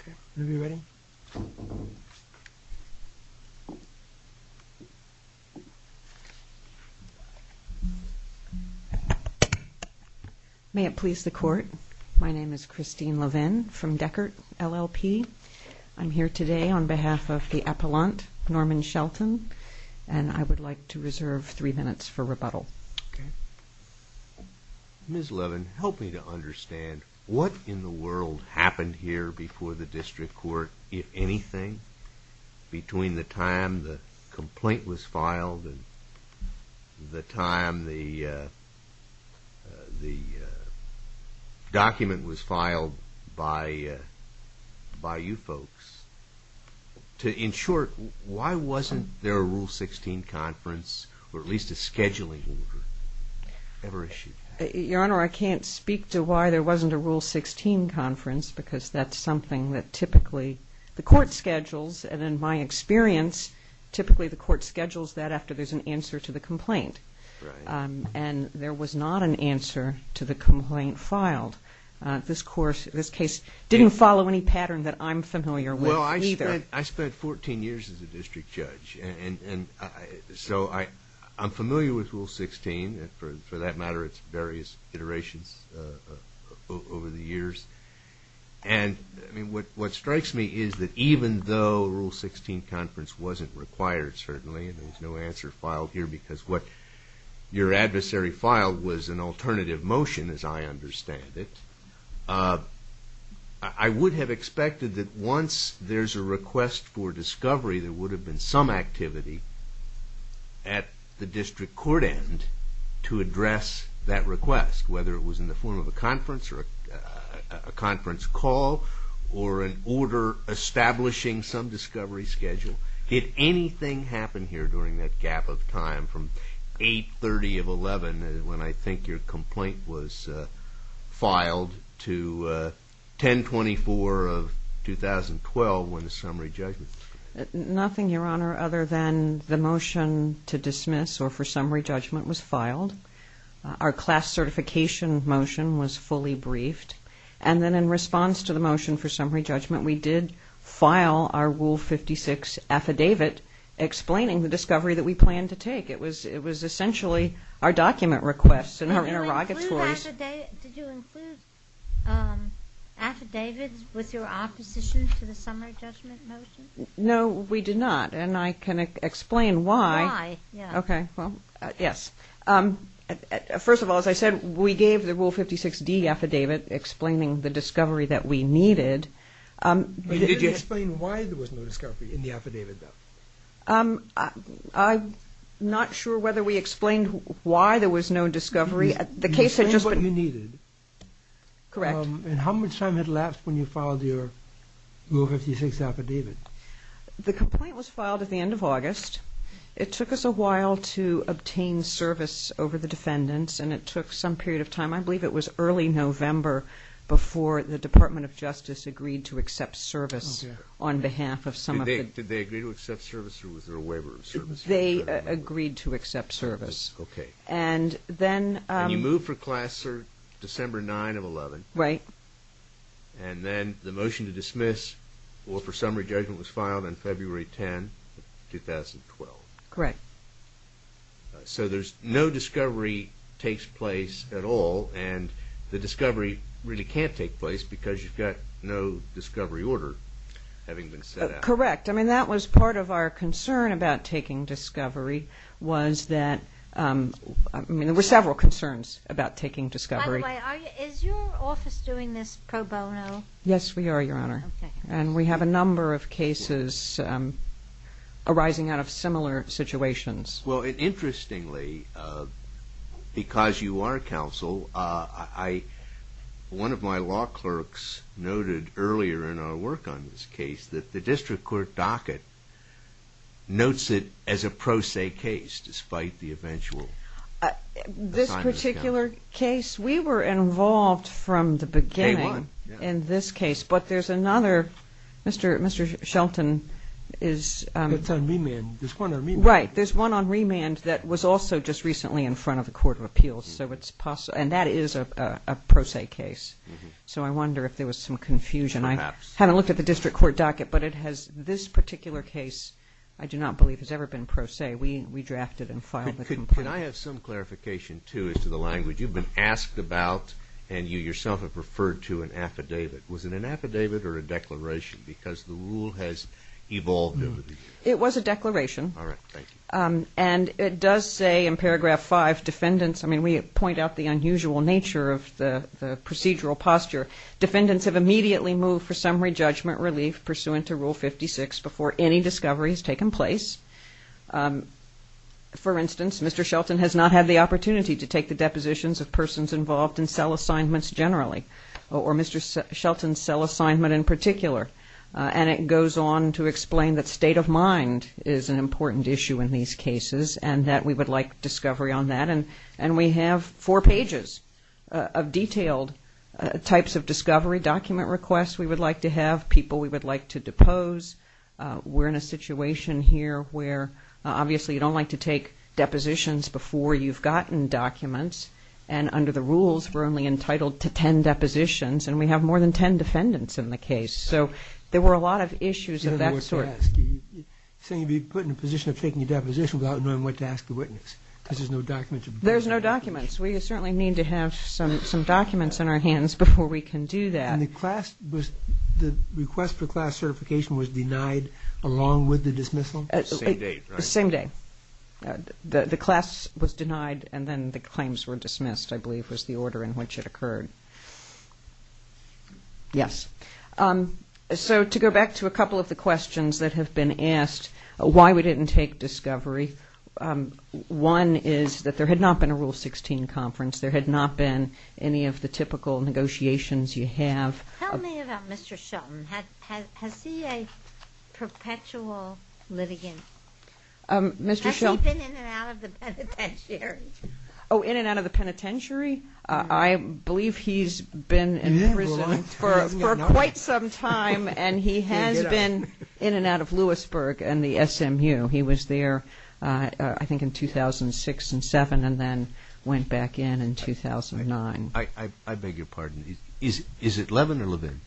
Okay, if you are ready. May it please the court, my name is Christine Levin from Deckert LLP. I'm here today on behalf of the appellant, Norman Shelton, and I would like to reserve three minutes for rebuttal. Ms. Levin, help me to understand what in the world happened here before the district court, if anything, between the time the complaint was filed and the time the document was filed by you folks, to, in short, why wasn't there a Rule 16 conference, or at least a scheduling order, ever issued? Your Honor, I can't speak to why there wasn't a Rule 16 conference, because that's something that typically the court schedules, and in my experience, typically the court schedules that after there's an answer to the complaint, and there was not an answer to the complaint filed. This court, this case, didn't follow any pattern that I'm familiar with either. I spent 14 years as a district judge, and so I'm familiar with Rule 16, for that matter it's various iterations over the years, and what strikes me is that even though Rule 16 conference wasn't required, certainly, and there's no answer filed here because what your adversary filed was an alternative motion, as I understand it, I would have expected that once there's a request for discovery, there would have been some activity at the district court end to address that request, whether it was in the form of a conference or a conference call, or an order establishing some discovery schedule. Did anything happen here during that gap of time from 8-30 of 11, when I think your complaint was filed, to 10-24 of 2012 when the summary judgment? Nothing, Your Honor, other than the motion to dismiss or for summary judgment was filed. Our class certification motion was fully briefed, and then in response to the motion for summary judgment, we gave an affidavit explaining the discovery that we planned to take. It was essentially our document requests and our interrogatory. Did you include affidavits with your opposition to the summary judgment motion? No, we did not, and I can explain why. Why? Okay, well, yes. First of all, as I said, we gave the Rule 56D affidavit explaining the discovery that we needed. Did you explain why there was no discovery in the affidavit, though? I'm not sure whether we explained why there was no discovery. You explained what you needed. Correct. And how much time had left when you filed your Rule 56 affidavit? The complaint was filed at the end of August. It took us a while to obtain service over the defendants, and it took some period of November before the Department of Justice agreed to accept service on behalf of some of the defendants. Did they agree to accept service, or was there a waiver of service? They agreed to accept service. Okay. And then... And you moved for class December 9 of 11. Right. And then the motion to dismiss or for summary judgment was filed on February 10, 2012. Correct. So there's... No discovery takes place at all, and the discovery really can't take place because you've got no discovery order having been set out. Correct. I mean, that was part of our concern about taking discovery was that... I mean, there were several concerns about taking discovery. By the way, is your office doing this pro bono? Yes, we are, Your Honor. Okay. And we have a number of cases arising out of similar situations. Well, interestingly, because you are counsel, one of my law clerks noted earlier in our work on this case that the district court docket notes it as a pro se case despite the eventual... This particular case, we were involved from the beginning in this case, but there's another Mr. Shelton is... It's on remand. There's one on remand. Right. There's one on remand that was also just recently in front of the Court of Appeals, so it's possible... And that is a pro se case. So I wonder if there was some confusion. Perhaps. I haven't looked at the district court docket, but it has... This particular case, I do not believe, has ever been pro se. We drafted and filed the complaint. Could I have some clarification, too, as to the language? You've been asked about, and you yourself have referred to an affidavit. Was it an affidavit or a declaration? Because the rule has evolved over the years. It was a declaration. All right. Thank you. And it does say in paragraph 5, defendants... I mean, we point out the unusual nature of the procedural posture. Defendants have immediately moved for summary judgment relief pursuant to Rule 56 before any discovery has taken place. For instance, Mr. Shelton has not had the opportunity to take the depositions of persons involved in cell assignments generally, or Mr. Shelton's cell assignment in particular. And it goes on to explain that state of mind is an important issue in these cases and that we would like discovery on that. And we have four pages of detailed types of discovery, document requests we would like to have, people we would like to depose. We're in a situation here where, obviously, you don't like to take depositions before you've gotten documents, and under the rules, we're only entitled to 10 depositions, and we have more than 10 defendants in the case. So there were a lot of issues of that sort. You don't know what to ask. You're saying you'd be put in a position of taking a deposition without knowing what to ask the witness because there's no documents. There's no documents. We certainly need to have some documents in our hands before we can do that. And the class was the request for class certification was denied along with the dismissal? Same day, right? Same day. The class was denied and then the claims were dismissed, I believe, was the order in which it occurred. Yes. So to go back to a couple of the questions that have been asked, why we didn't take discovery, one is that there had not been a Rule 16 conference. There had not been any of the typical negotiations you have. Tell me about Mr. Shelton. Has he a perpetual litigant? Mr. Shelton? Has he been in and out of the penitentiary? Oh, in and out of the penitentiary? I believe he's been in prison for quite some time and he has been in and out of Lewisburg and the SMU. He was there, I think, in 2006 and 2007 and then went back in in 2009. I beg your pardon. Is it Levin or Levin?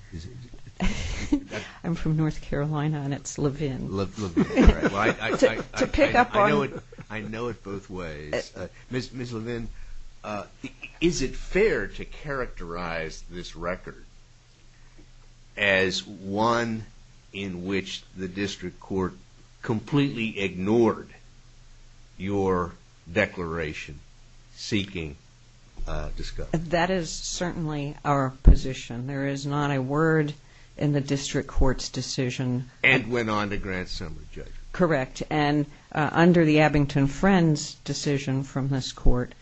I'm from North Carolina and it's Levin. Levin. I know it both ways. Ms. Levin, is it fair to characterize this record as one in which the district court completely ignored your declaration seeking discovery? That is certainly our position. There is not a word in the district court's decision. And went on to grant some rejection. Correct. And under the Abington-Friends decision from this court,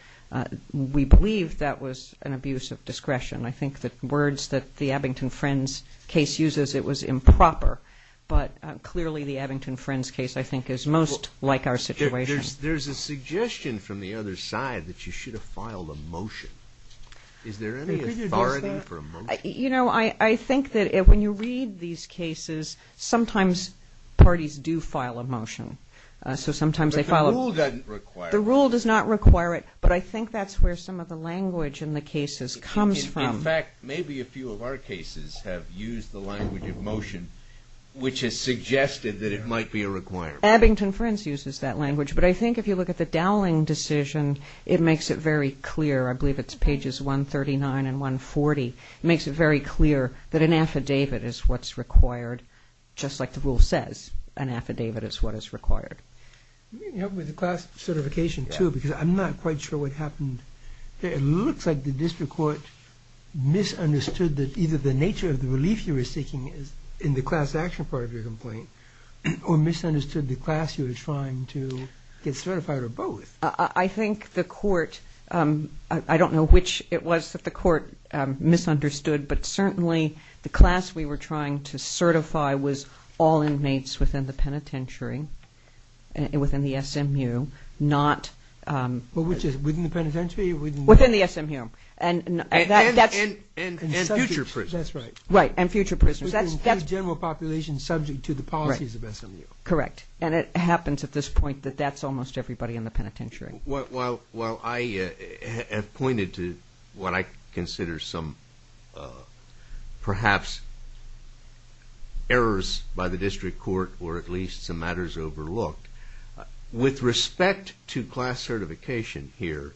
we believe that was an abuse of discretion. I think the words that the Abington-Friends case uses, it was improper. But clearly the Abington-Friends case, I think, is most like our situation. There's a suggestion from the other side that you should have filed a motion. Is there any authority for a motion? You know, I think that when you read these cases, sometimes parties do file a motion. So sometimes they file a motion. But the rule doesn't require it. The rule does not require it, but I think that's where some of the language in the cases comes from. In fact, maybe a few of our cases have used the language of motion, which has suggested that it might be a requirement. Abington-Friends uses that language. But I think if you look at the Dowling decision, it makes it very clear. I believe it's pages 139 and 140. It makes it very clear that an affidavit is what's required, just like the rule says. An affidavit is what is required. Can you help me with the class certification, too? Because I'm not quite sure what happened there. It looks like the district court misunderstood that either the nature of the relief you were seeking in the class action part of your complaint or misunderstood the class you were trying to get certified or both. I think the court ‑‑ I don't know which it was that the court misunderstood, but certainly the class we were trying to certify was all inmates within the penitentiary, within the SMU, not ‑‑ Within the penitentiary? Within the SMU. And future prisoners. Right, and future prisoners. Within the general population subject to the policies of SMU. Correct. And it happens at this point that that's almost everybody in the penitentiary. While I have pointed to what I consider some perhaps errors by the district court or at least some matters overlooked, with respect to class certification here,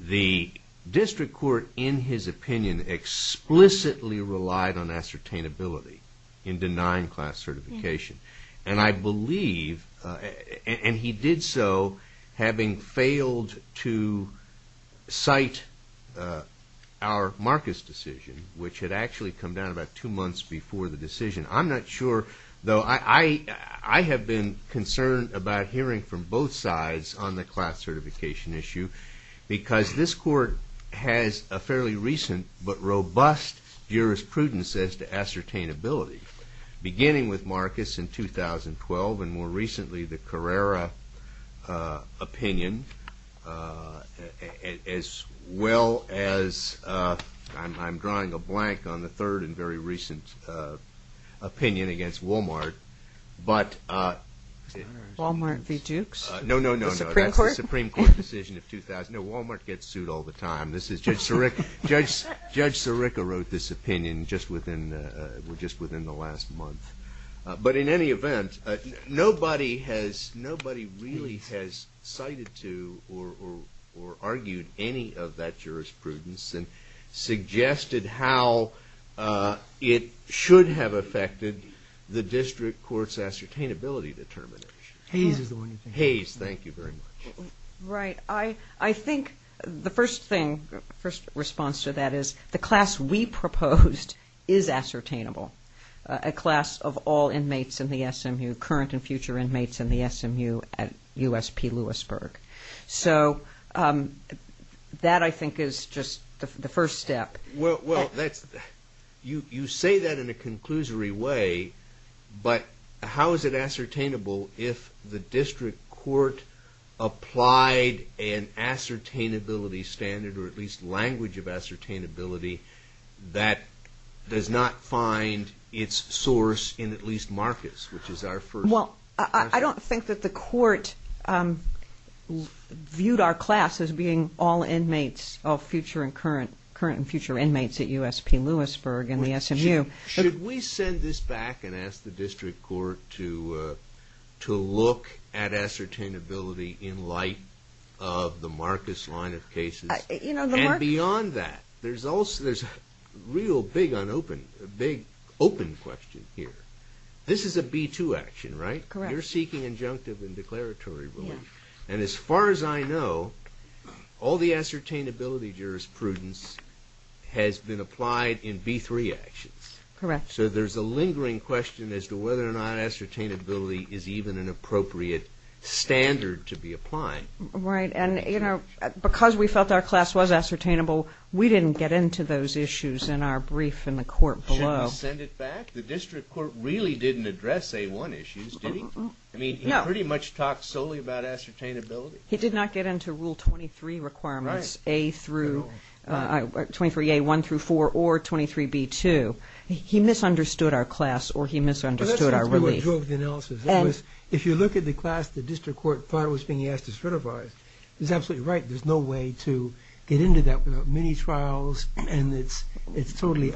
the district court, in his opinion, explicitly relied on ascertainability in denying class certification. And I believe, and he did so having failed to cite our Marcus decision, which had actually come down about two months before the decision. I'm not sure, though I have been concerned about hearing from both sides on the class certification issue, because this court has a fairly recent but robust jurisprudence as to ascertainability, beginning with Marcus in 2012 and more recently the Carrera opinion, as well as I'm drawing a blank on the third and very recent opinion against Walmart. Walmart v. Dukes? No, no, no, no. The Supreme Court? That's the Supreme Court decision of 2000. No, Walmart gets sued all the time. Judge Sirica wrote this opinion just within the last month. But in any event, nobody really has cited to or argued any of that jurisprudence and suggested how it should have affected the district court's ascertainability determination. Hayes is the one you're thinking of. Hayes, thank you very much. Right. I think the first response to that is the class we proposed is ascertainable, a class of all inmates in the SMU, current and future inmates in the SMU at USP Lewisburg. So that, I think, is just the first step. Well, you say that in a conclusory way, but how is it ascertainable if the district court applied an ascertainability standard or at least language of ascertainability that does not find its source in at least Marcus, which is our first question. Well, I don't think that the court viewed our class as being all inmates, all future and current and future inmates at USP Lewisburg in the SMU. Should we send this back and ask the district court to look at ascertainability in light of the Marcus line of cases? And beyond that, there's a real big open question here. This is a B2 action, right? Correct. You're seeking injunctive and declaratory relief. And as far as I know, all the ascertainability jurisprudence has been applied in B3 actions. Correct. So there's a lingering question as to whether or not ascertainability is even an appropriate standard to be applied. Right. And, you know, because we felt our class was ascertainable, we didn't get into those issues in our brief in the court below. Shouldn't we send it back? The district court really didn't address A1 issues, did he? No. I mean, he pretty much talked solely about ascertainability. He did not get into Rule 23 requirements, A through 23A, 1 through 4, or 23B2. He misunderstood our class or he misunderstood our relief. That's sort of a joke analysis. If you look at the class the district court thought it was being asked to certify, he's absolutely right, there's no way to get into that without many trials and it's totally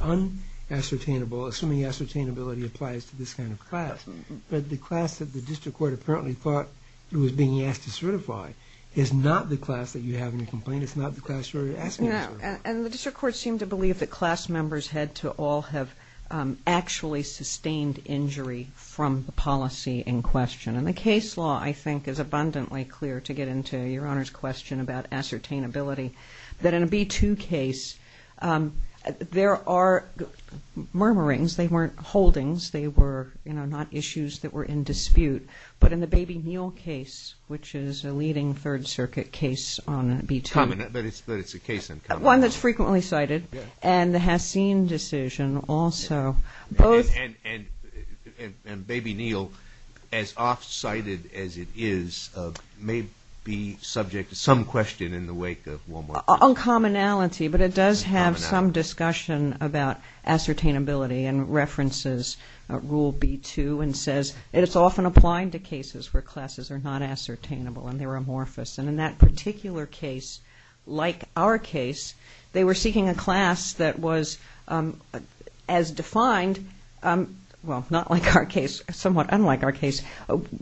unascertainable, assuming ascertainability applies to this kind of class. But the class that the district court apparently thought it was being asked to certify is not the class that you have in your complaint. It's not the class you're asking to certify. And the district court seemed to believe that class members had to all have actually sustained injury from the policy in question. And the case law, I think, is abundantly clear to get into Your Honor's question about ascertainability, that in a B2 case, there are murmurings, they weren't holdings, they were, you know, not issues that were in dispute. But in the Baby Neal case, which is a leading Third Circuit case on B2. Common, but it's a case uncommon. One that's frequently cited. Yeah. And the Hassine decision also. And Baby Neal, as oft cited as it is, may be subject to some question in the wake of Walmart. Uncommonality, but it does have some discussion about ascertainability and references Rule B2 and says it's often applied to cases where classes are not ascertainable and they're amorphous. And in that particular case, like our case, they were seeking a class that was as defined, well, not like our case, somewhat unlike our case,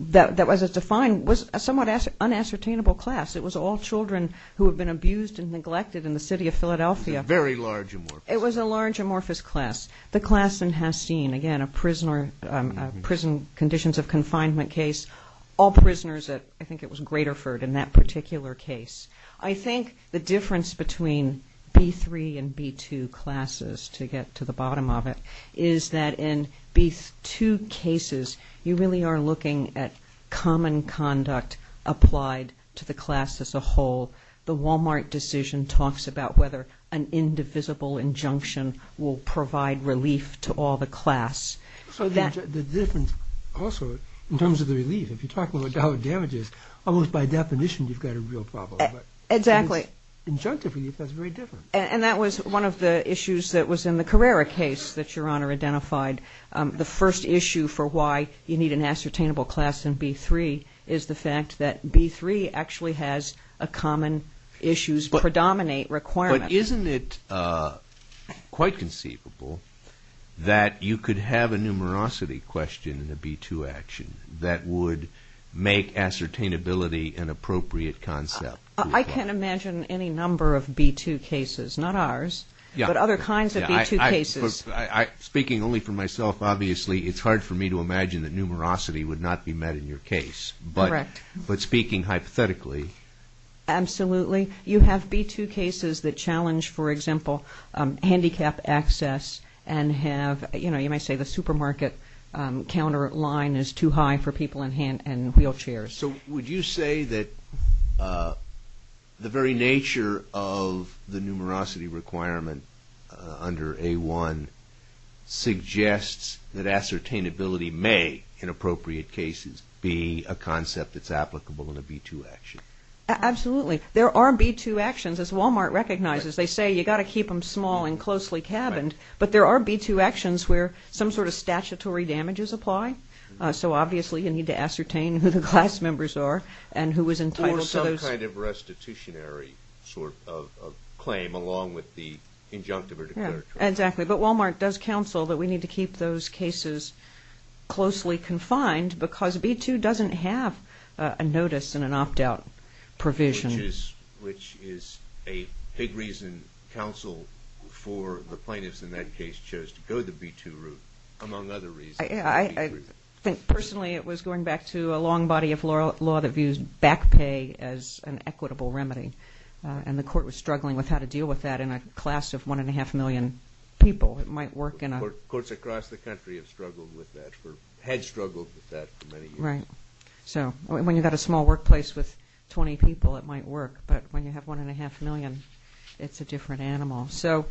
that was as defined, was a somewhat unascertainable class. It was all children who had been abused and neglected in the city of Philadelphia. Very large amorphous. It was a large amorphous class. The class in Hassine, again, a prison conditions of confinement case. All prisoners at, I think it was Graterford in that particular case. I think the difference between B3 and B2 classes, to get to the bottom of it, is that in B2 cases you really are looking at common conduct applied to the class as a whole. The Walmart decision talks about whether an indivisible injunction will provide relief to all the class. So the difference also in terms of the relief, if you're talking about dollar damages, almost by definition you've got a real problem. Exactly. Injunctive relief, that's very different. And that was one of the issues that was in the Carrera case that Your Honor identified. The first issue for why you need an ascertainable class in B3 is the fact that B3 actually has a common issues predominate requirement. But isn't it quite conceivable that you could have a numerosity question in a B2 action that would make ascertainability an appropriate concept? I can imagine any number of B2 cases, not ours, but other kinds of B2 cases. Speaking only for myself, obviously it's hard for me to imagine that numerosity would not be met in your case. Correct. But speaking hypothetically. Absolutely. You have B2 cases that challenge, for example, handicap access and have, you know, you might say the supermarket counter line is too high for people in wheelchairs. So would you say that the very nature of the numerosity requirement under A1 suggests that ascertainability may, in appropriate cases, be a concept that's applicable in a B2 action? Absolutely. There are B2 actions, as Walmart recognizes. They say you've got to keep them small and closely cabined. But there are B2 actions where some sort of statutory damages apply. So obviously you need to ascertain who the class members are and who is entitled to those. Or some kind of restitutionary sort of claim along with the injunctive or declaratory. Exactly. But Walmart does counsel that we need to keep those cases closely confined because B2 doesn't have a notice and an opt-out provision. Which is a big reason counsel for the plaintiffs in that case chose to go the B2 route, among other reasons. I think personally it was going back to a long body of law that views back pay as an equitable remedy. And the court was struggling with how to deal with that in a class of one and a half million people. It might work in a... Courts across the country have struggled with that or had struggled with that for many years. Right. So when you've got a small workplace with 20 people, it might work. But when you have one and a half million, it's a different animal. So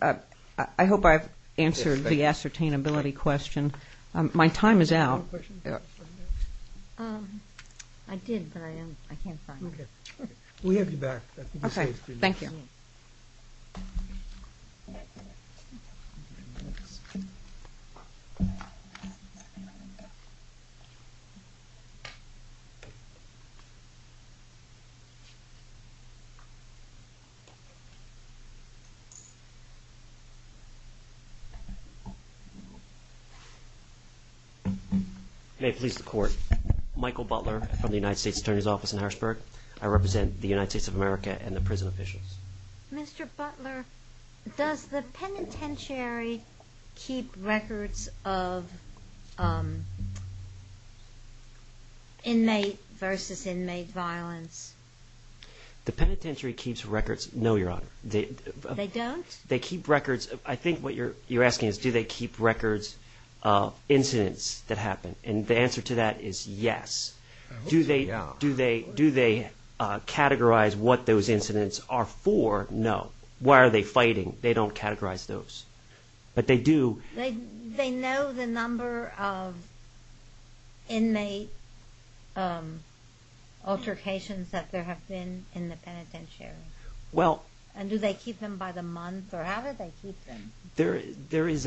I hope I've answered the ascertainability question. My time is out. I did, but I can't find it. We have you back. Okay. Thank you. May it please the Court. Michael Butler from the United States Attorney's Office in Harrisburg. I represent the United States of America and the prison officials. Mr. Butler, does the penitentiary keep records of inmate versus inmate violence? The penitentiary keeps records, no, Your Honor. They don't? They keep records. I think what you're asking is do they keep records of incidents that happened. And the answer to that is yes. Do they categorize what those incidents are for? No. Why are they fighting? They don't categorize those. But they do. They know the number of inmate altercations that there have been in the penitentiary? And do they keep them by the month, or how do they keep them? There is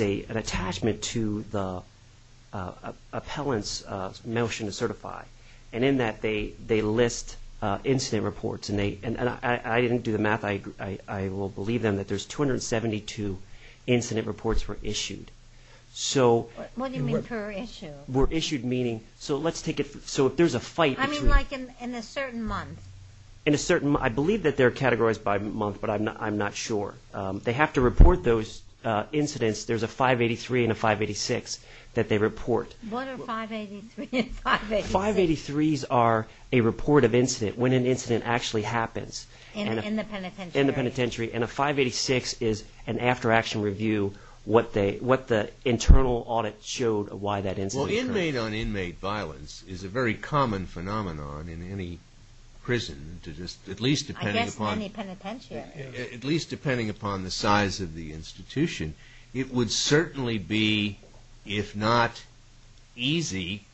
an attachment to the appellant's motion to certify, and in that they list incident reports. And I didn't do the math. I will believe them that there's 272 incident reports were issued. What do you mean per issue? So if there's a fight between them. I mean like in a certain month. In a certain month. I believe that they're categorized by month, but I'm not sure. They have to report those incidents. There's a 583 and a 586 that they report. What are 583 and 586? 583s are a report of incident, when an incident actually happens. In the penitentiary. In the penitentiary. And a 586 is an after-action review, what the internal audit showed why that incident occurred. Well, inmate-on-inmate violence is a very common phenomenon in any prison, at least depending upon the size of the institution. It would certainly be, if not easy,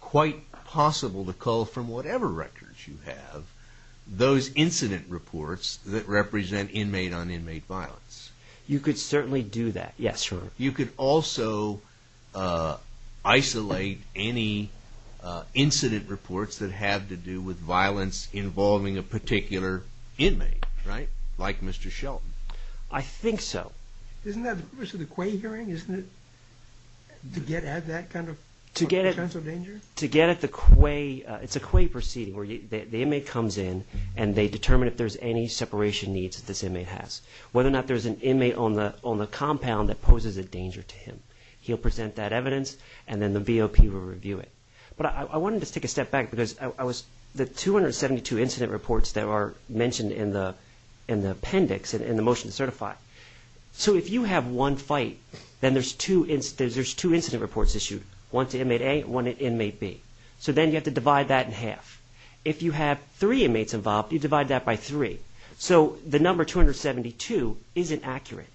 quite possible to cull from whatever records you have, those incident reports that represent inmate-on-inmate violence. You could certainly do that. Yes, sir. You could also isolate any incident reports that have to do with violence involving a particular inmate. Right? Like Mr. Shelton. I think so. Isn't that the purpose of the Quay hearing? Isn't it to get at that kind of potential danger? To get at the Quay. It's a Quay proceeding where the inmate comes in and they determine if there's any separation needs that this inmate has. Whether or not there's an inmate on the compound that poses a danger to him. He'll present that evidence, and then the VOP will review it. But I wanted to take a step back, because the 272 incident reports that are mentioned in the appendix in the motion to certify, so if you have one fight, then there's two incident reports issued, one to inmate A and one to inmate B. So then you have to divide that in half. If you have three inmates involved, you divide that by three. Right. So the number 272 isn't accurate.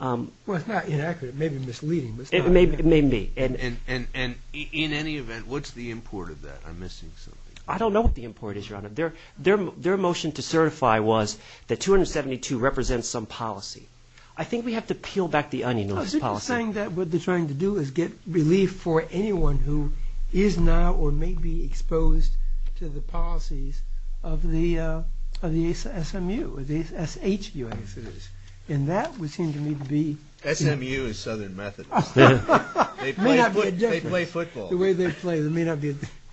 Well, it's not inaccurate. It may be misleading. It may be. And in any event, what's the import of that? I'm missing something. I don't know what the import is, Your Honor. Their motion to certify was that 272 represents some policy. I think we have to peel back the onion on this policy. No, isn't it just saying that what they're trying to do is get relief for anyone who is now or may be exposed to the policies of the SMU or the SHU. And that would seem to me to be... SMU is Southern Methodist. They play football. The way they play,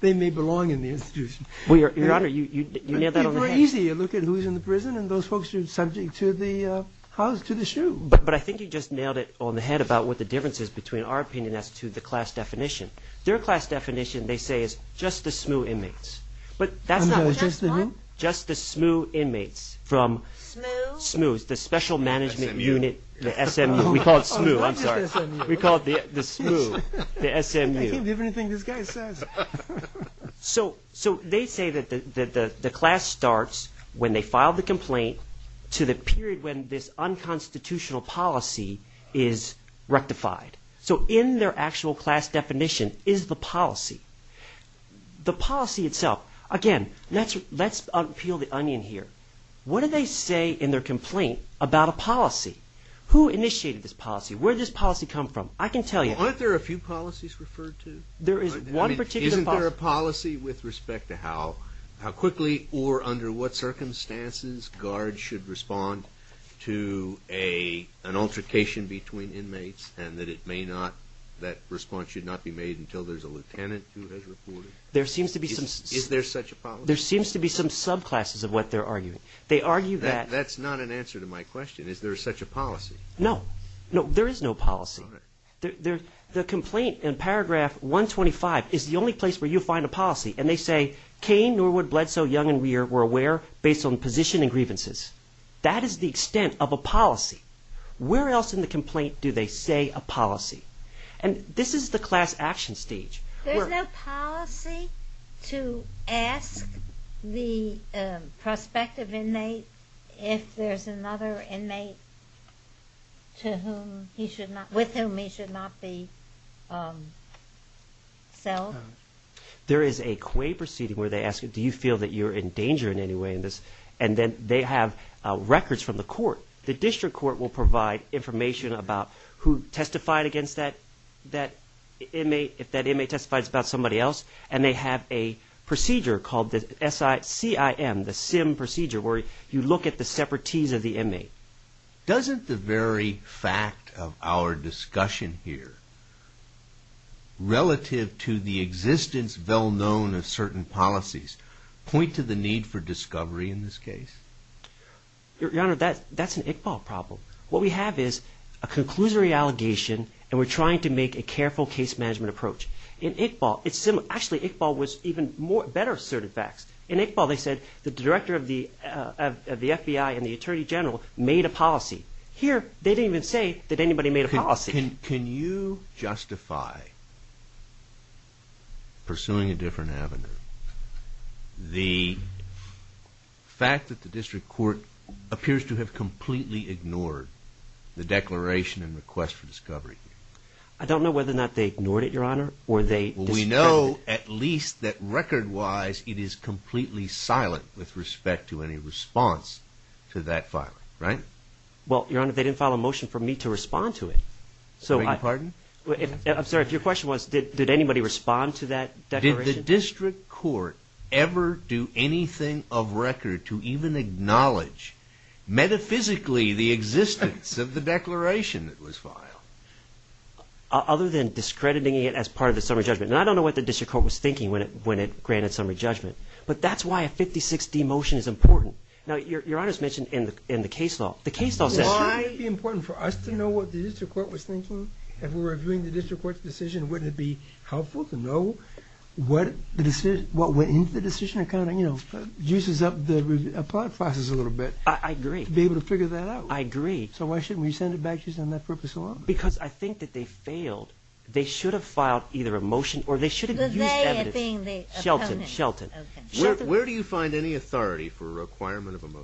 they may belong in the institution. Your Honor, you nailed that on the head. It would be very easy to look at who's in the prison, and those folks are subject to the shoe. But I think you just nailed it on the head about what the difference is between our opinion as to the class definition. Their class definition, they say, is just the SMU inmates. But that's not the case. Just the who? Just the SMU inmates from... SMU? SMU is the Special Management Unit. SMU? The SMU. We call it SMU. I'm sorry. We call it the SMU. The SMU. I can't believe anything this guy says. So they say that the class starts when they file the complaint to the period when this unconstitutional policy is rectified. So in their actual class definition is the policy. The policy itself... Again, let's peel the onion here. What do they say in their complaint about a policy? Who initiated this policy? Where did this policy come from? I can tell you. Aren't there a few policies referred to? Isn't there a policy with respect to how quickly or under what circumstances guards should respond to an altercation between inmates and that response should not be made until there's a lieutenant who has reported? There seems to be some... Is there such a policy? There seems to be some subclasses of what they're arguing. They argue that... That's not an answer to my question. Is there such a policy? No. No, there is no policy. All right. The complaint in paragraph 125 is the only place where you'll find a policy, and they say, Cain, Norwood, Bledsoe, Young, and Weir were aware based on position and grievances. That is the extent of a policy. Where else in the complaint do they say a policy? And this is the class action stage. There's no policy to ask the prospective inmate if there's another inmate with whom he should not be self? There is a Quay proceeding where they ask, Do you feel that you're in danger in any way in this? And then they have records from the court. The district court will provide information about who testified against that inmate, if that inmate testified about somebody else, and they have a procedure called the CIM, the SIM procedure, where you look at the separatees of the inmate. Doesn't the very fact of our discussion here relative to the existence well-known of certain policies point to the need for discovery in this case? Your Honor, that's an Iqbal problem. What we have is a conclusory allegation, and we're trying to make a careful case management approach. In Iqbal, it's similar. Actually, Iqbal was even better asserted facts. In Iqbal, they said the director of the FBI and the attorney general made a policy. Here, they didn't even say that anybody made a policy. Can you justify pursuing a different avenue? The fact that the district court appears to have completely ignored the declaration and request for discovery. I don't know whether or not they ignored it, Your Honor, or they discovered it. We know at least that record-wise it is completely silent with respect to any response to that filing, right? Well, Your Honor, they didn't file a motion for me to respond to it. Beg your pardon? I'm sorry. If your question was did anybody respond to that declaration? Did the district court ever do anything of record to even acknowledge, metaphysically, the existence of the declaration that was filed? Other than discrediting it as part of the summary judgment. Now, I don't know what the district court was thinking when it granted summary judgment, but that's why a 56-D motion is important. Now, Your Honor's mentioned in the case law. Why would it be important for us to know what the district court was thinking? If we were reviewing the district court's decision, wouldn't it be helpful to know what went into the decision? It kind of juices up the process a little bit. I agree. To be able to figure that out. I agree. So why shouldn't we send it back just on that purpose alone? Because I think that they failed. They should have filed either a motion or they should have used evidence. Was they as being the opponent? Shelton. Okay.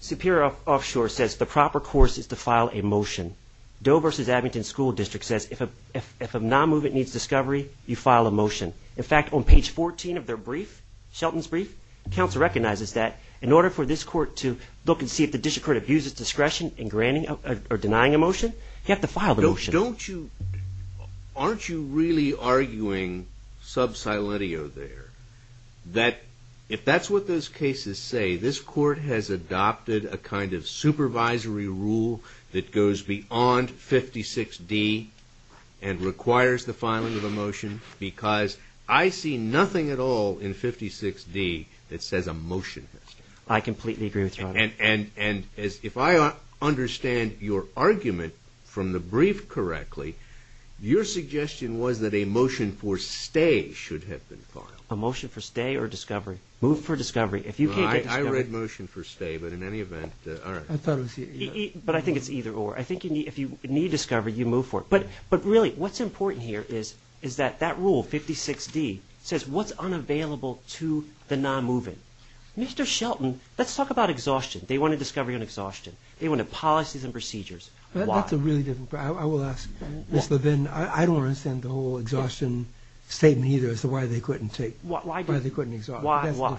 Superior Offshore says the proper course is to file a motion. Doe versus Abington School District says if a non-movement needs discovery, you file a motion. In fact, on page 14 of their brief, Shelton's brief, counsel recognizes that in order for this court to look and see if the district court abuses discretion in denying a motion, you have to file the motion. Don't you – aren't you really arguing sub silentio there? That if that's what those cases say, this court has adopted a kind of supervisory rule that goes beyond 56D and requires the filing of a motion because I see nothing at all in 56D that says a motion has to be filed. I completely agree with you. And if I understand your argument from the brief correctly, your suggestion was that a motion for stay should have been filed. A motion for stay or discovery? Move for discovery. If you can't get discovery – I read motion for stay, but in any event – all right. I thought it was – But I think it's either or. I think if you need discovery, you move for it. But really what's important here is that that rule, 56D, says what's unavailable to the non-moving. Mr. Shelton, let's talk about exhaustion. They want to discover your exhaustion. They want policies and procedures. Why? That's a really difficult – I will ask, Ms. Levin, I don't understand the whole exhaustion statement either as to why they couldn't take – Why – Why they couldn't exhaust. Why, why?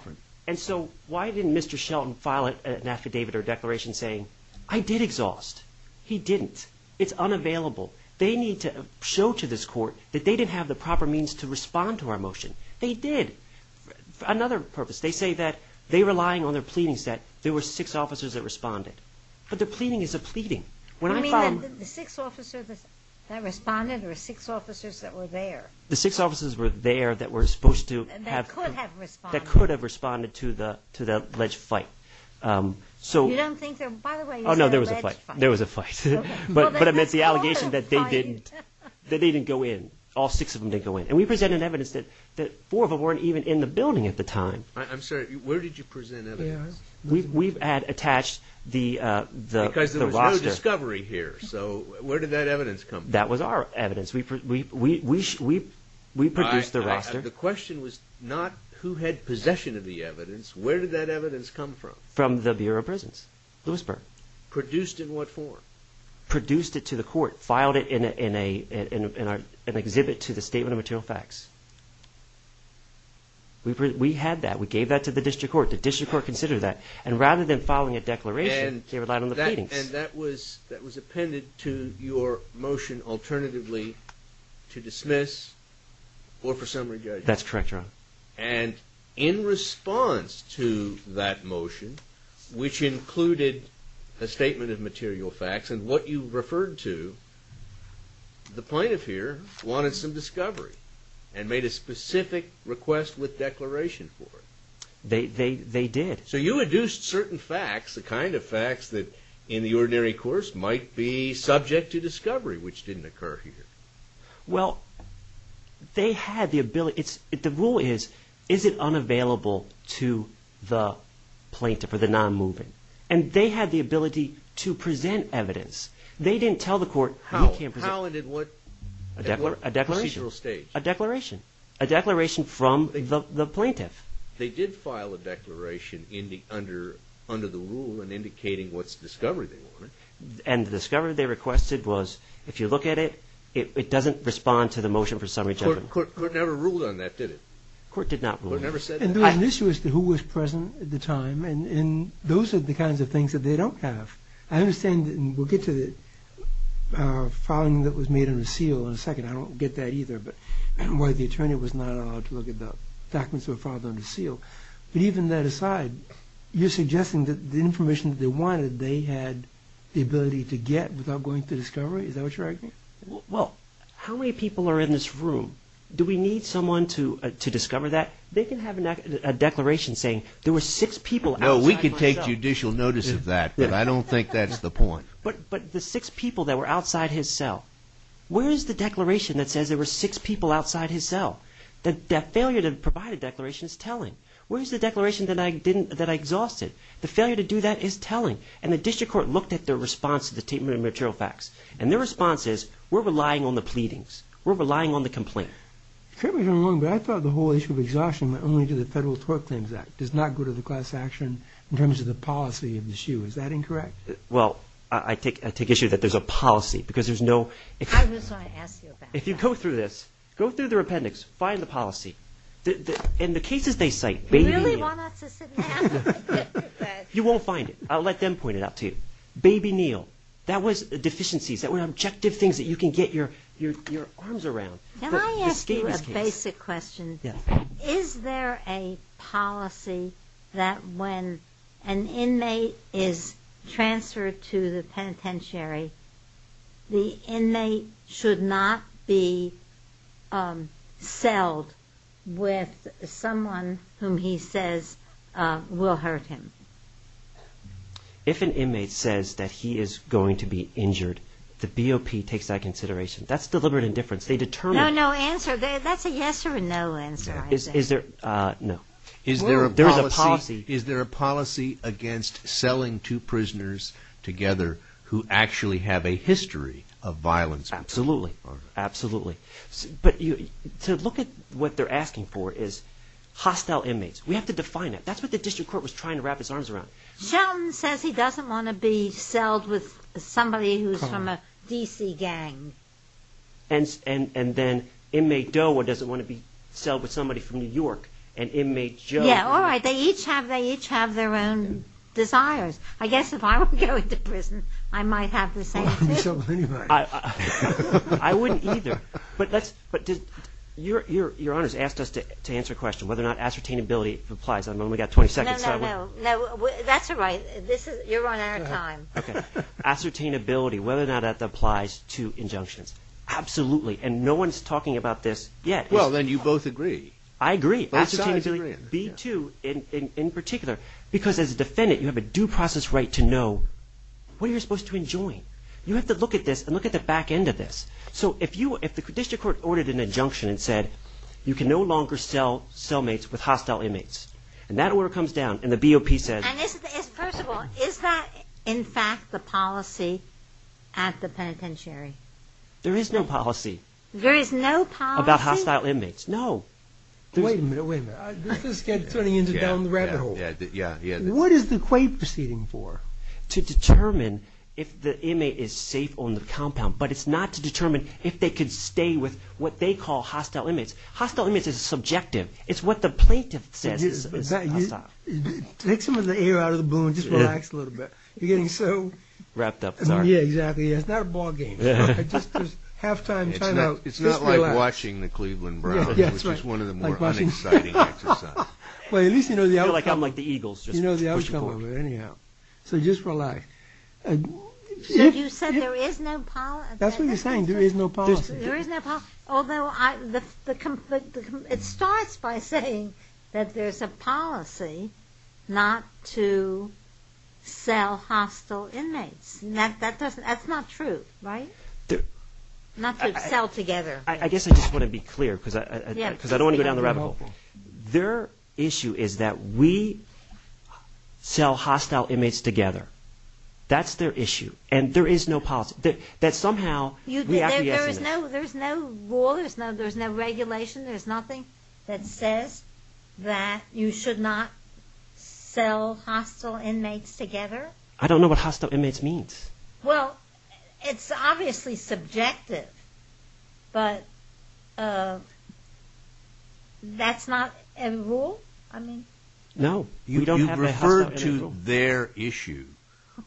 And so why didn't Mr. Shelton file an affidavit or declaration saying, I did exhaust. He didn't. It's unavailable. They need to show to this court that they didn't have the proper means to respond to our motion. They did. For another purpose, they say that they were relying on their pleadings, that there were six officers that responded. But the pleading is a pleading. When I filed – You mean that the six officers that responded or six officers that were there? The six officers were there that were supposed to have – that could have responded to the alleged fight. So – You don't think they're – by the way, you said alleged fight. Oh, no, there was a fight. There was a fight. Okay. But I meant the allegation that they didn't – Well, there was also a fight. That they didn't go in. All six of them didn't go in. And we presented evidence that four of them weren't even in the building at the time. I'm sorry. Where did you present evidence? We had attached the roster – Because there was no discovery here. So where did that evidence come from? That was our evidence. We produced the roster. The question was not who had possession of the evidence. Where did that evidence come from? From the Bureau of Prisons, Lewisburg. Produced in what form? Produced it to the court. Filed it in an exhibit to the Statement of Material Facts. We had that. We gave that to the district court. The district court considered that. And rather than filing a declaration, they relied on the pleadings. And that was appended to your motion alternatively to dismiss or for summary judgment. That's correct, Your Honor. And in response to that motion, which included a Statement of Material Facts, and what you referred to, the plaintiff here wanted some discovery and made a specific request with declaration for it. They did. So you induced certain facts, the kind of facts that, in the ordinary course, might be subject to discovery, which didn't occur here. Well, they had the ability. The rule is, is it unavailable to the plaintiff or the non-moving? And they had the ability to present evidence. They didn't tell the court. How and in what procedural stage? A declaration. A declaration from the plaintiff. They did file a declaration under the rule and indicating what discovery they wanted. And the discovery they requested was, if you look at it, it doesn't respond to the motion for summary judgment. The court never ruled on that, did it? The court did not rule. The court never said that? And there was an issue as to who was present at the time, and those are the kinds of things that they don't have. I understand, and we'll get to the filing that was made under seal in a second. I don't get that either, where the attorney was not allowed to look at the documents that were filed under seal. But even that aside, you're suggesting that the information that they wanted, they had the ability to get without going through discovery? Is that what you're arguing? Well, how many people are in this room? Do we need someone to discover that? They can have a declaration saying there were six people outside my cell. No, we could take judicial notice of that, but I don't think that's the point. But the six people that were outside his cell, where is the declaration that says there were six people outside his cell? That failure to provide a declaration is telling. Where is the declaration that I exhausted? The failure to do that is telling. And the district court looked at their response to the Treatment of Material Facts, and their response is, we're relying on the pleadings. We're relying on the complaint. Fairly soon, but I thought the whole issue of exhaustion went only to the Federal Tort Claims Act, does not go to the class action in terms of the policy of the issue. Is that incorrect? Well, I take issue that there's a policy, because there's no... I just want to ask you about that. If you go through this, go through the rependants, find the policy. In the cases they cite, baby Neal... You really want us to sit and ask? You won't find it. I'll let them point it out to you. Baby Neal, that was deficiencies. That were objective things that you can get your arms around. Can I ask you a basic question? Is there a policy that when an inmate is transferred to the penitentiary, the inmate should not be selled with someone whom he says will hurt him? If an inmate says that he is going to be injured, the BOP takes that consideration. That's deliberate indifference. They determine... No, no answer. That's a yes or a no answer. Is there a policy against selling two prisoners together who actually have a history of violence? Absolutely. Absolutely. But to look at what they're asking for is hostile inmates. We have to define it. That's what the district court was trying to wrap its arms around. Sheldon says he doesn't want to be sold with somebody who's from a D.C. gang. And then inmate Doe doesn't want to be sold with somebody from New York. And inmate Joe... Yeah, all right. They each have their own desires. I guess if I were going to prison, I might have the same thing. I wouldn't sell with anybody. I wouldn't either. But your Honor has asked us to answer a question whether or not ascertainability applies. I've only got 20 seconds. No, no, no. That's all right. You're running out of time. Okay. Ascertainability, whether or not that applies to injunctions. Absolutely. And no one's talking about this yet. Well, then you both agree. I agree. Both sides agree. B-2 in particular, because as a defendant, you have a due process right to know what you're supposed to enjoin. You have to look at this and look at the back end of this. So if the district court ordered an injunction and said, you can no longer sell cellmates with hostile inmates, and that order comes down and the BOP says... First of all, is that, in fact, the policy at the penitentiary? There is no policy. There is no policy? About hostile inmates. No. Wait a minute, wait a minute. This is getting into down the rabbit hole. Yeah, yeah. What is the quay proceeding for? To determine if the inmate is safe on the compound, but it's not to determine if they could stay with what they call hostile inmates. Hostile inmates is subjective. It's what the plaintiff says is hostile. Take some of the air out of the balloon. Just relax a little bit. You're getting so... Wrapped up, sorry. Yeah, exactly. It's not a ball game. It's just there's halftime time out. It's not like watching the Cleveland Browns, which is one of the more unexciting exercises. At least you know the outcome. I feel like I'm like the Eagles. You know the outcome of it anyhow. So just relax. So you said there is no policy? That's what you're saying. There is no policy. There is no policy. Although it starts by saying that there's a policy not to sell hostile inmates. That's not true, right? Not to sell together. I guess I just want to be clear because I don't want to go down the rabbit hole. Their issue is that we sell hostile inmates together. That's their issue, and there is no policy. There's no rule. There's no regulation. There's nothing that says that you should not sell hostile inmates together. I don't know what hostile inmates means. Well, it's obviously subjective, but that's not a rule? No, we don't have a hostile inmates rule. You referred to their issue.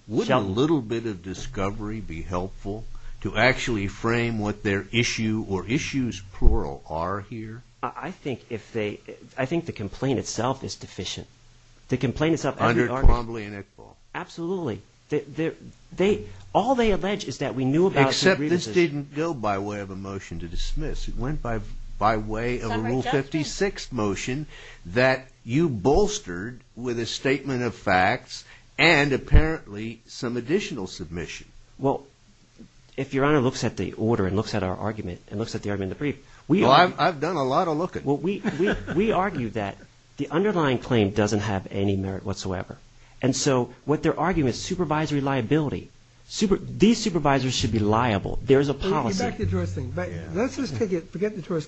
Would a little bit of discovery be helpful to actually frame what their issue or issues plural are here? I think the complaint itself is deficient. Under Twombly and Iqbal? Absolutely. All they allege is that we knew about some criticism. Except this didn't go by way of a motion to dismiss. It went by way of a Rule 56 motion that you bolstered with a statement of facts and apparently some additional submission. Well, if Your Honor looks at the order and looks at our argument and looks at the argument in the brief, we argue that the underlying claim doesn't have any merit whatsoever. And so what their argument is supervisory liability. These supervisors should be liable. There is a policy. Forget the tourist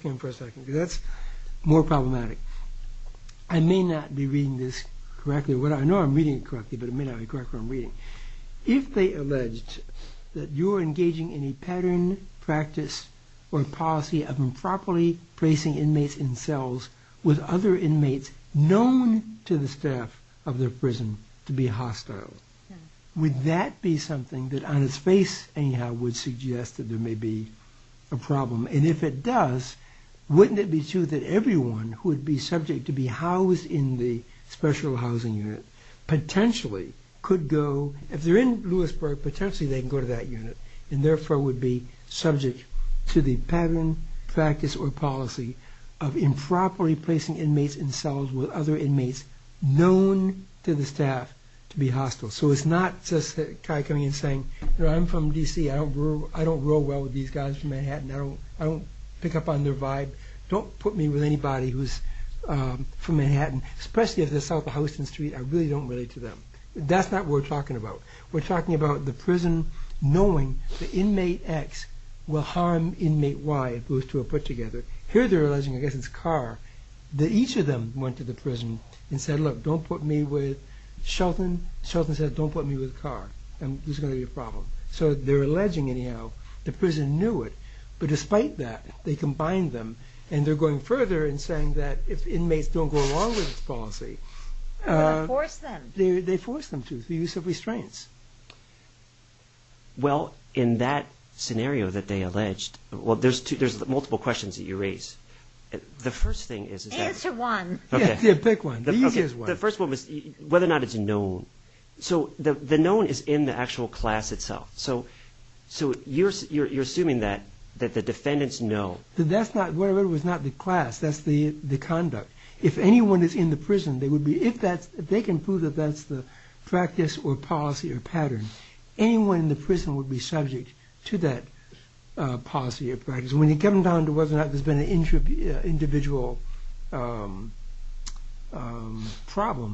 thing for a second because that's more problematic. I may not be reading this correctly. I know I'm reading it correctly, but I may not be correct in what I'm reading. If they alleged that you're engaging in a pattern, practice, or policy of improperly placing inmates in cells with other inmates known to the staff of their prison to be hostile, would that be something that on its face anyhow would suggest that there may be a problem? And if it does, wouldn't it be true that everyone who would be subject to be housed in the special housing unit potentially could go, if they're in Lewisburg, potentially they can go to that unit and therefore would be subject to the pattern, practice, or policy of improperly placing inmates in cells with other inmates known to the staff to be hostile. So it's not just Kai coming in saying, you know, I'm from D.C. I don't grow well with these guys from Manhattan. I don't pick up on their vibe. Don't put me with anybody who's from Manhattan, especially if they're south of Houston Street. I really don't relate to them. That's not what we're talking about. We're talking about the prison knowing that inmate X will harm inmate Y if those two are put together. Here they're alleging, I guess it's Carr, that each of them went to the prison and said, look, don't put me with Shelton. Shelton said, don't put me with Carr. There's going to be a problem. So they're alleging anyhow the prison knew it. But despite that, they combined them. And they're going further in saying that if inmates don't go along with this policy... They don't force them. They force them to through use of restraints. Well, in that scenario that they alleged, well, there's multiple questions that you raise. The first thing is... Answer one. Yeah, pick one. The easiest one. The first one was whether or not it's known. So the known is in the actual class itself. So you're assuming that the defendants know. That's not... Whatever it was not the class. That's the conduct. If anyone is in the prison, they would be... If that's... They can prove that that's the practice or policy or pattern. Anyone in the prison would be subject to that policy or practice. When you come down to whether or not there's been an individual problem,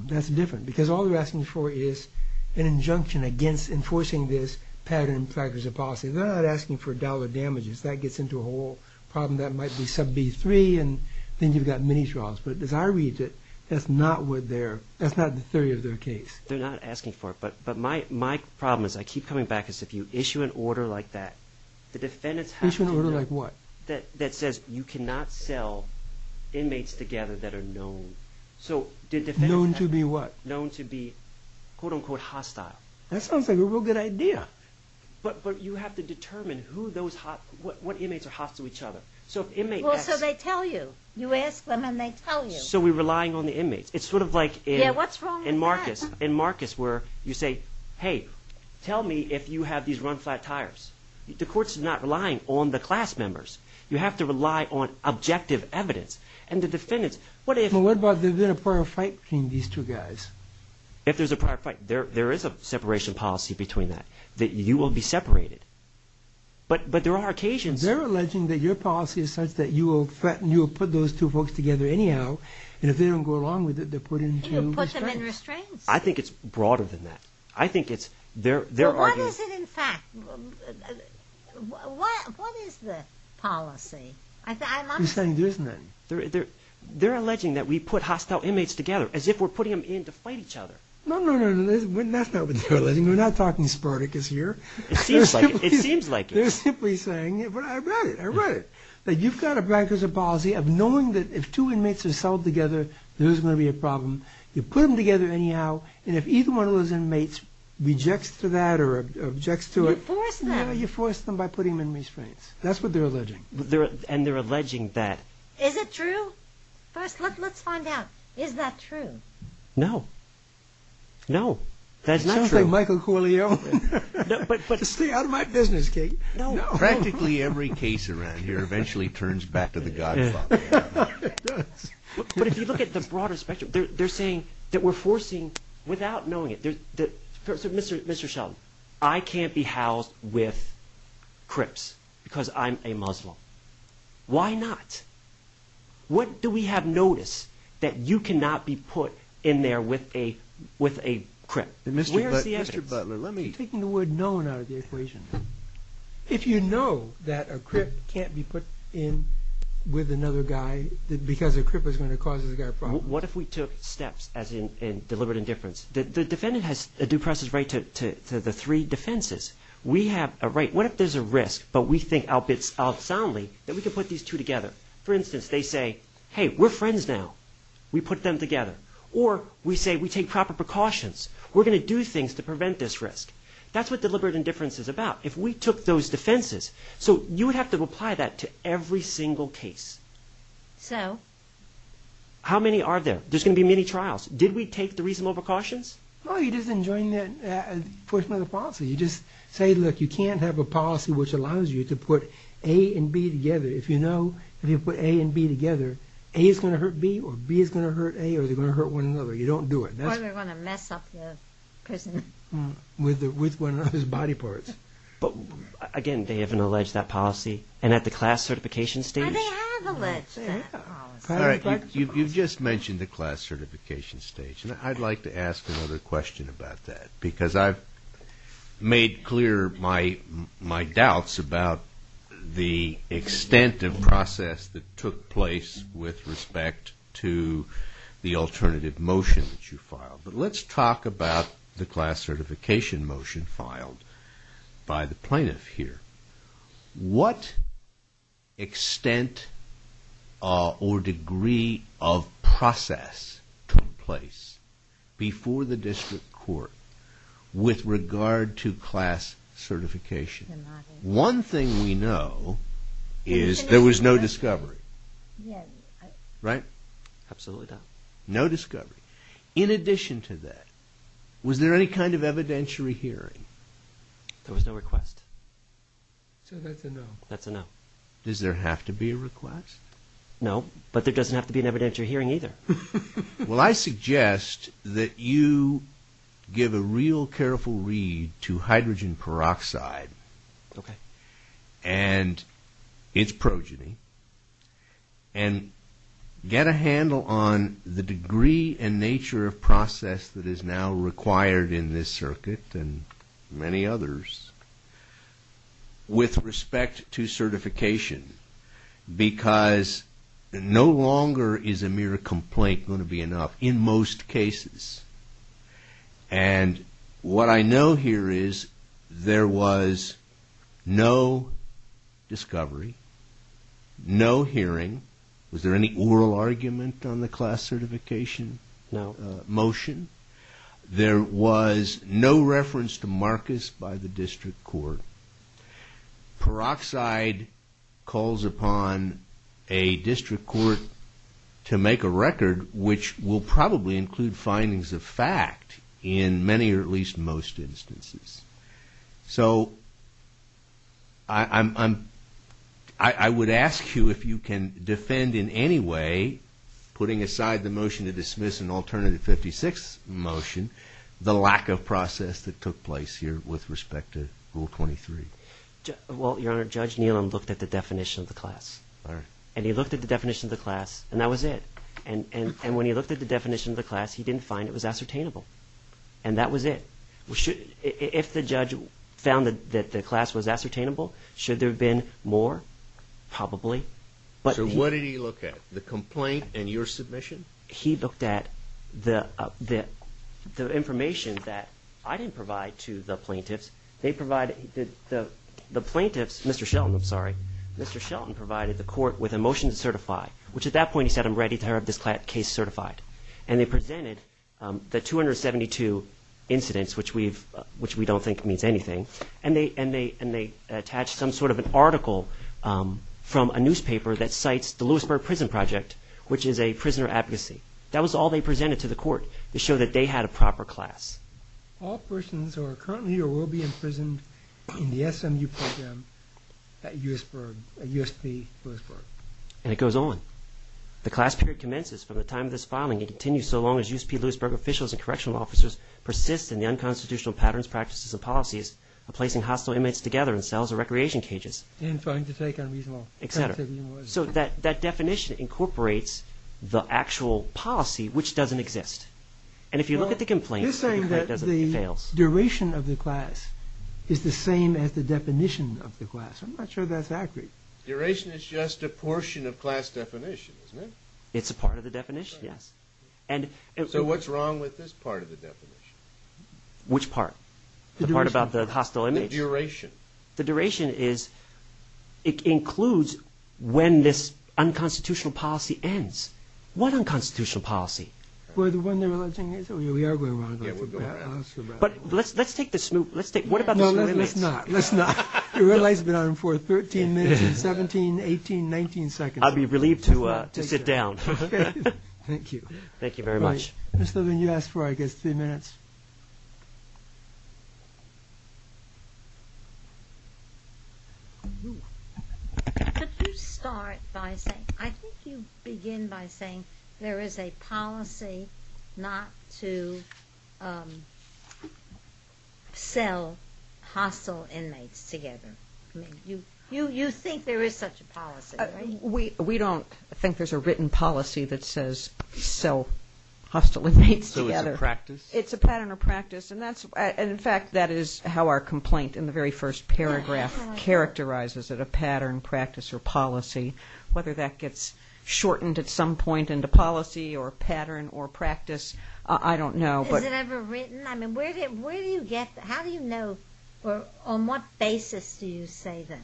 that's different. Because all they're asking for is an injunction against enforcing this pattern, practice, or policy. They're not asking for dollar damages. That gets into a whole problem that might be sub B3, and then you've got mini-trials. But as I read it, that's not the theory of their case. They're not asking for it. But my problem is I keep coming back is if you issue an order like that, the defendants have to... Issue an order like what? That says you cannot sell inmates together that are known. Known to be what? Known to be, quote unquote, hostile. That sounds like a real good idea. But you have to determine who those hostile... What inmates are hostile to each other. So if an inmate asks... Well, so they tell you. You ask them and they tell you. So we're relying on the inmates. It's sort of like in... Yeah, what's wrong with that? In Marcus, where you say, hey, tell me if you have these run-flat tires. The court's not relying on the class members. You have to rely on objective evidence. And the defendants, what if... Well, what about if there's been a prior fight between these two guys? If there's a prior fight. There is a separation policy between that. That you will be separated. But there are occasions... They're alleging that your policy is such that you will put those two folks together anyhow, and if they don't go along with it, they're put into restraints. You put them in restraints. I think it's broader than that. I think it's... What is it in fact? What is the policy? You're saying there's none. They're alleging that we put hostile inmates together, as if we're putting them in to fight each other. No, no, no. That's not what they're alleging. We're not talking Spartacus here. It seems like it. They're simply saying... But I read it. I read it. That you've got a blanket policy of knowing that if two inmates are settled together, there isn't going to be a problem. You put them together anyhow, and if either one of those inmates rejects to that or objects to it... You force them. Yeah, you force them by putting them in restraints. That's what they're alleging. And they're alleging that... Is it true? First, let's find out. Is that true? No. No. That's not true. Sounds like Michael Corleone. Stay out of my business, Kate. Practically every case around here eventually turns back to the Godfather. It does. But if you look at the broader spectrum, they're saying that we're forcing without knowing it. So, Mr. Sheldon, I can't be housed with Crips because I'm a Muslim. Why not? What do we have notice that you cannot be put in there with a Crip? Mr. Butler, let me... You're taking the word known out of the equation. If you know that a Crip can't be put in with another guy because a Crip is going to cause this guy a problem... What if we took steps as in deliberate indifference? The defendant has a due process right to the three defenses. We have a right. But we think out soundly that we can put these two together. For instance, they say, hey, we're friends now. We put them together. Or we say we take proper precautions. We're going to do things to prevent this risk. That's what deliberate indifference is about. If we took those defenses... So you would have to apply that to every single case. So? How many are there? There's going to be many trials. Did we take the reasonable precautions? No, you're just enjoying that portion of the policy. You just say, look, you can't have a policy which allows you to put A and B together. If you know if you put A and B together, A is going to hurt B or B is going to hurt A or they're going to hurt one another. You don't do it. Or they're going to mess up the prison. With one another's body parts. Again, they haven't alleged that policy. And at the class certification stage... They have alleged that policy. You've just mentioned the class certification stage. I'd like to ask another question about that. Because I've made clear my doubts about the extent of process that took place with respect to the alternative motion that you filed. But let's talk about the class certification motion filed by the plaintiff here. What extent or degree of process took place before the district court with regard to class certification? One thing we know is there was no discovery. Right? Absolutely not. No discovery. In addition to that, was there any kind of evidentiary hearing? There was no request. So that's a no. That's a no. Does there have to be a request? No, but there doesn't have to be an evidentiary hearing either. Well, I suggest that you give a real careful read to hydrogen peroxide and its progeny and get a handle on the degree and nature of process that is now required in this circuit and many others with respect to certification. Because no longer is a mere complaint going to be enough in most cases. And what I know here is there was no discovery, no hearing. Was there any oral argument on the class certification motion? No. There was no reference to Marcus by the district court. Peroxide calls upon a district court to make a record, which will probably include findings of fact in many or at least most instances. So I would ask you if you can defend in any way, putting aside the motion to dismiss an alternative 56 motion, the lack of process that took place here with respect to Rule 23. Well, Your Honor, Judge Nealon looked at the definition of the class. All right. And he looked at the definition of the class, and that was it. And when he looked at the definition of the class, he didn't find it was ascertainable. And that was it. If the judge found that the class was ascertainable, should there have been more? Probably. So what did he look at, the complaint and your submission? He looked at the information that I didn't provide to the plaintiffs. The plaintiffs, Mr. Shelton, I'm sorry, Mr. Shelton provided the court with a motion to certify, which at that point he said I'm ready to have this case certified. And they presented the 272 incidents, which we don't think means anything, and they attached some sort of an article from a newspaper that cites the Lewisburg Prison Project, which is a prisoner advocacy. That was all they presented to the court to show that they had a proper class. All persons who are currently or will be imprisoned in the SMU program at USP Lewisburg. And it goes on. The class period commences from the time of this filing and continues so long as USP Lewisburg officials and correctional officers persist in the unconstitutional patterns, practices, and policies of placing hostile inmates together in cells or recreation cages. So that definition incorporates the actual policy, which doesn't exist. And if you look at the complaint, it fails. You're saying that the duration of the class is the same as the definition of the class. I'm not sure that's accurate. Duration is just a portion of class definition, isn't it? It's a part of the definition, yes. So what's wrong with this part of the definition? Which part? The part about the hostile inmates? The duration. The duration is it includes when this unconstitutional policy ends. What unconstitutional policy? Well, the one they're alluding is. We are going around. But let's take the SMU. What about the SMU inmates? Let's not. The red light's been on for 13 minutes and 17, 18, 19 seconds. I'll be relieved to sit down. Thank you. Thank you very much. Mr. Levin, you asked for, I guess, three minutes. Could you start by saying, I think you begin by saying there is a policy not to sell hostile inmates together. You think there is such a policy, right? We don't think there's a written policy that says sell hostile inmates together. So it's a practice? It's a pattern or practice. And, in fact, that is how our complaint in the very first paragraph characterizes it, a pattern, practice, or policy. Whether that gets shortened at some point into policy or pattern or practice, I don't know. Is it ever written? I mean, where do you get that? How do you know or on what basis do you say that?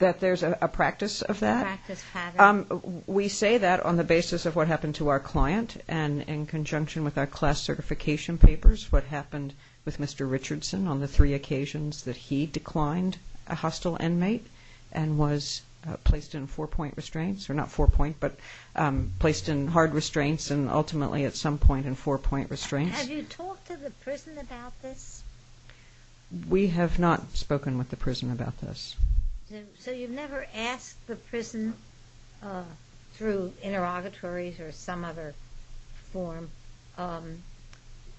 That there's a practice of that? A practice pattern. We say that on the basis of what happened to our client and in conjunction with our class certification papers, what happened with Mr. Richardson on the three occasions that he declined a hostile inmate and was placed in hard restraints and ultimately at some point in four-point restraints. Have you talked to the prison about this? We have not spoken with the prison about this. So you've never asked the prison through interrogatories or some other form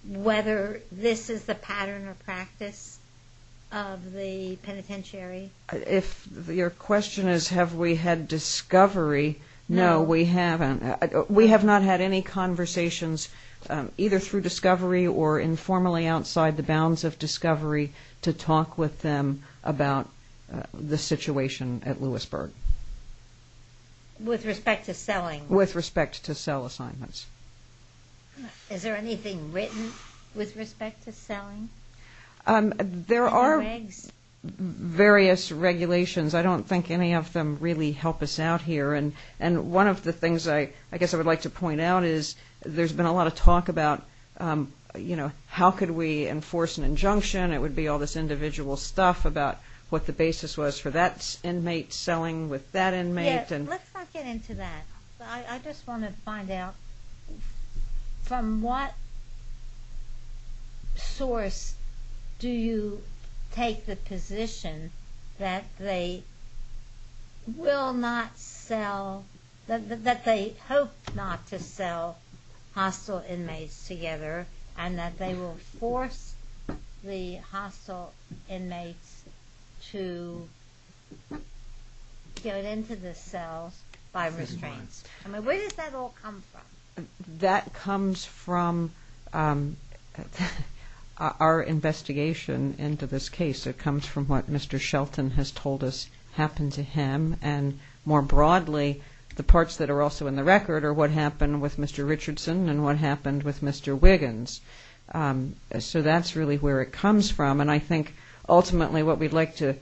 whether this is the pattern or practice of the penitentiary? If your question is have we had discovery, no, we haven't. We have not had any conversations either through discovery or informally outside the bounds of discovery to talk with them about the situation at Lewisburg. With respect to selling? With respect to sell assignments. Is there anything written with respect to selling? There are various regulations. I don't think any of them really help us out here. One of the things I guess I would like to point out is there's been a lot of talk about how could we enforce an injunction. It would be all this individual stuff about what the basis was for that inmate selling with that inmate. Let's not get into that. I just want to find out from what source do you take the position that they hope not to sell hostile inmates together and that they will force the hostile inmates to get into the cells by restraints? Where does that all come from? That comes from our investigation into this case. It comes from what Mr. Shelton has told us happened to him. And more broadly, the parts that are also in the record are what happened with Mr. Richardson and what happened with Mr. Wiggins. So that's really where it comes from. And I think ultimately what we'd like to,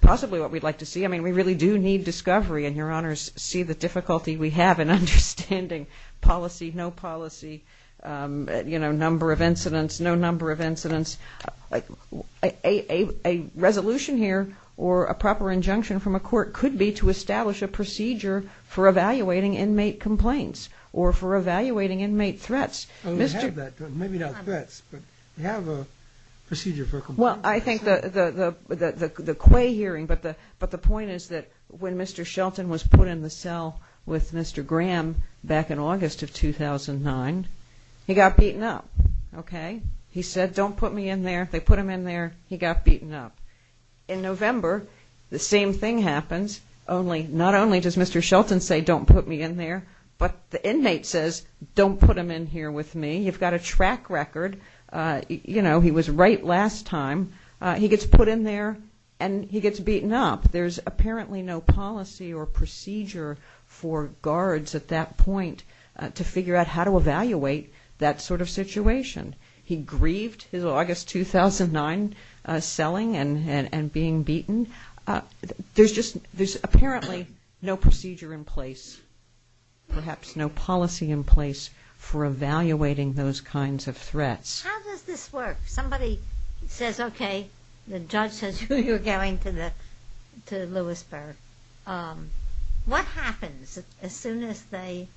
possibly what we'd like to see, I mean, we really do need discovery, and Your Honors see the difficulty we have in understanding policy, no policy, you know, number of incidents, no number of incidents. A resolution here or a proper injunction from a court could be to establish a procedure for evaluating inmate complaints or for evaluating inmate threats. Maybe not threats, but have a procedure for complaints. Well, I think the quay hearing, but the point is that when Mr. Shelton was put in the cell with Mr. Graham back in August of 2009, he got beaten up, okay? He said, don't put me in there. They put him in there. He got beaten up. In November, the same thing happens. Not only does Mr. Shelton say, don't put me in there, but the inmate says, don't put him in here with me. You've got a track record. You know, he was right last time. He gets put in there, and he gets beaten up. There's apparently no policy or procedure for guards at that point to figure out how to evaluate that sort of situation. He grieved his August 2009 selling and being beaten. There's just, there's apparently no procedure in place, perhaps no policy in place for evaluating those kinds of threats. How does this work? If somebody says, okay, the judge says you're going to Lewisburg, what happens as soon as they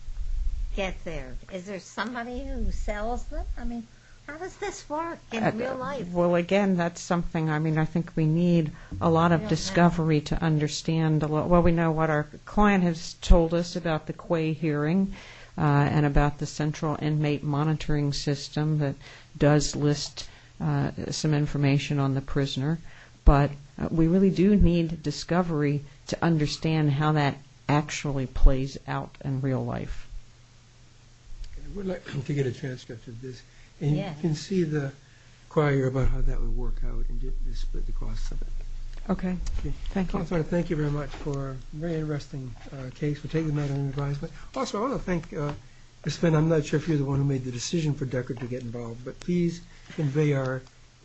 get there? Is there somebody who sells them? I mean, how does this work in real life? Well, again, that's something, I mean, I think we need a lot of discovery to understand. Well, we know what our client has told us about the Quay hearing and about the central inmate monitoring system that does list some information on the prisoner. But we really do need discovery to understand how that actually plays out in real life. I would like to get a transcript of this. Yes. And you can see the query about how that would work out and just the cost of it. Okay, thank you. I want to thank you very much for a very interesting case. We'll take the matter under advisement. Also, I want to thank, I'm not sure if you're the one who made the decision for Deckard to get involved, but please convey our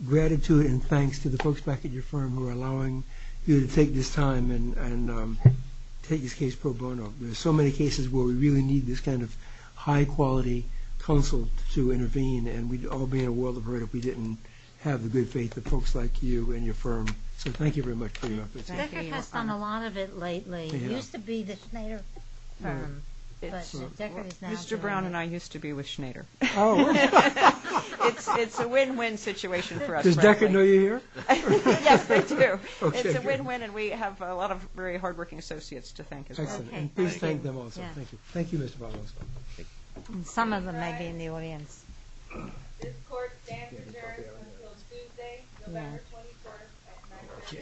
gratitude and thanks to the folks back at your firm who are allowing you to take this time and take this case pro bono. There are so many cases where we really need this kind of high-quality counsel to intervene, and we'd all be in a world of hurt if we didn't have the good faith of folks like you and your firm. So thank you very much for your efforts. Deckard has done a lot of it lately. He used to be the Schneider firm, but Deckard is now doing it. Mr. Brown and I used to be with Schneider. Oh, really? It's a win-win situation for us. Does Deckard know you're here? Yes, they do. It's a win-win, and we have a lot of very hardworking associates to thank as well. Excellent. And please thank them also. Thank you. Thank you, Mr. Brown. Some of them may be in the audience. This court stands adjourned until Tuesday, November 21 at 9 p.m.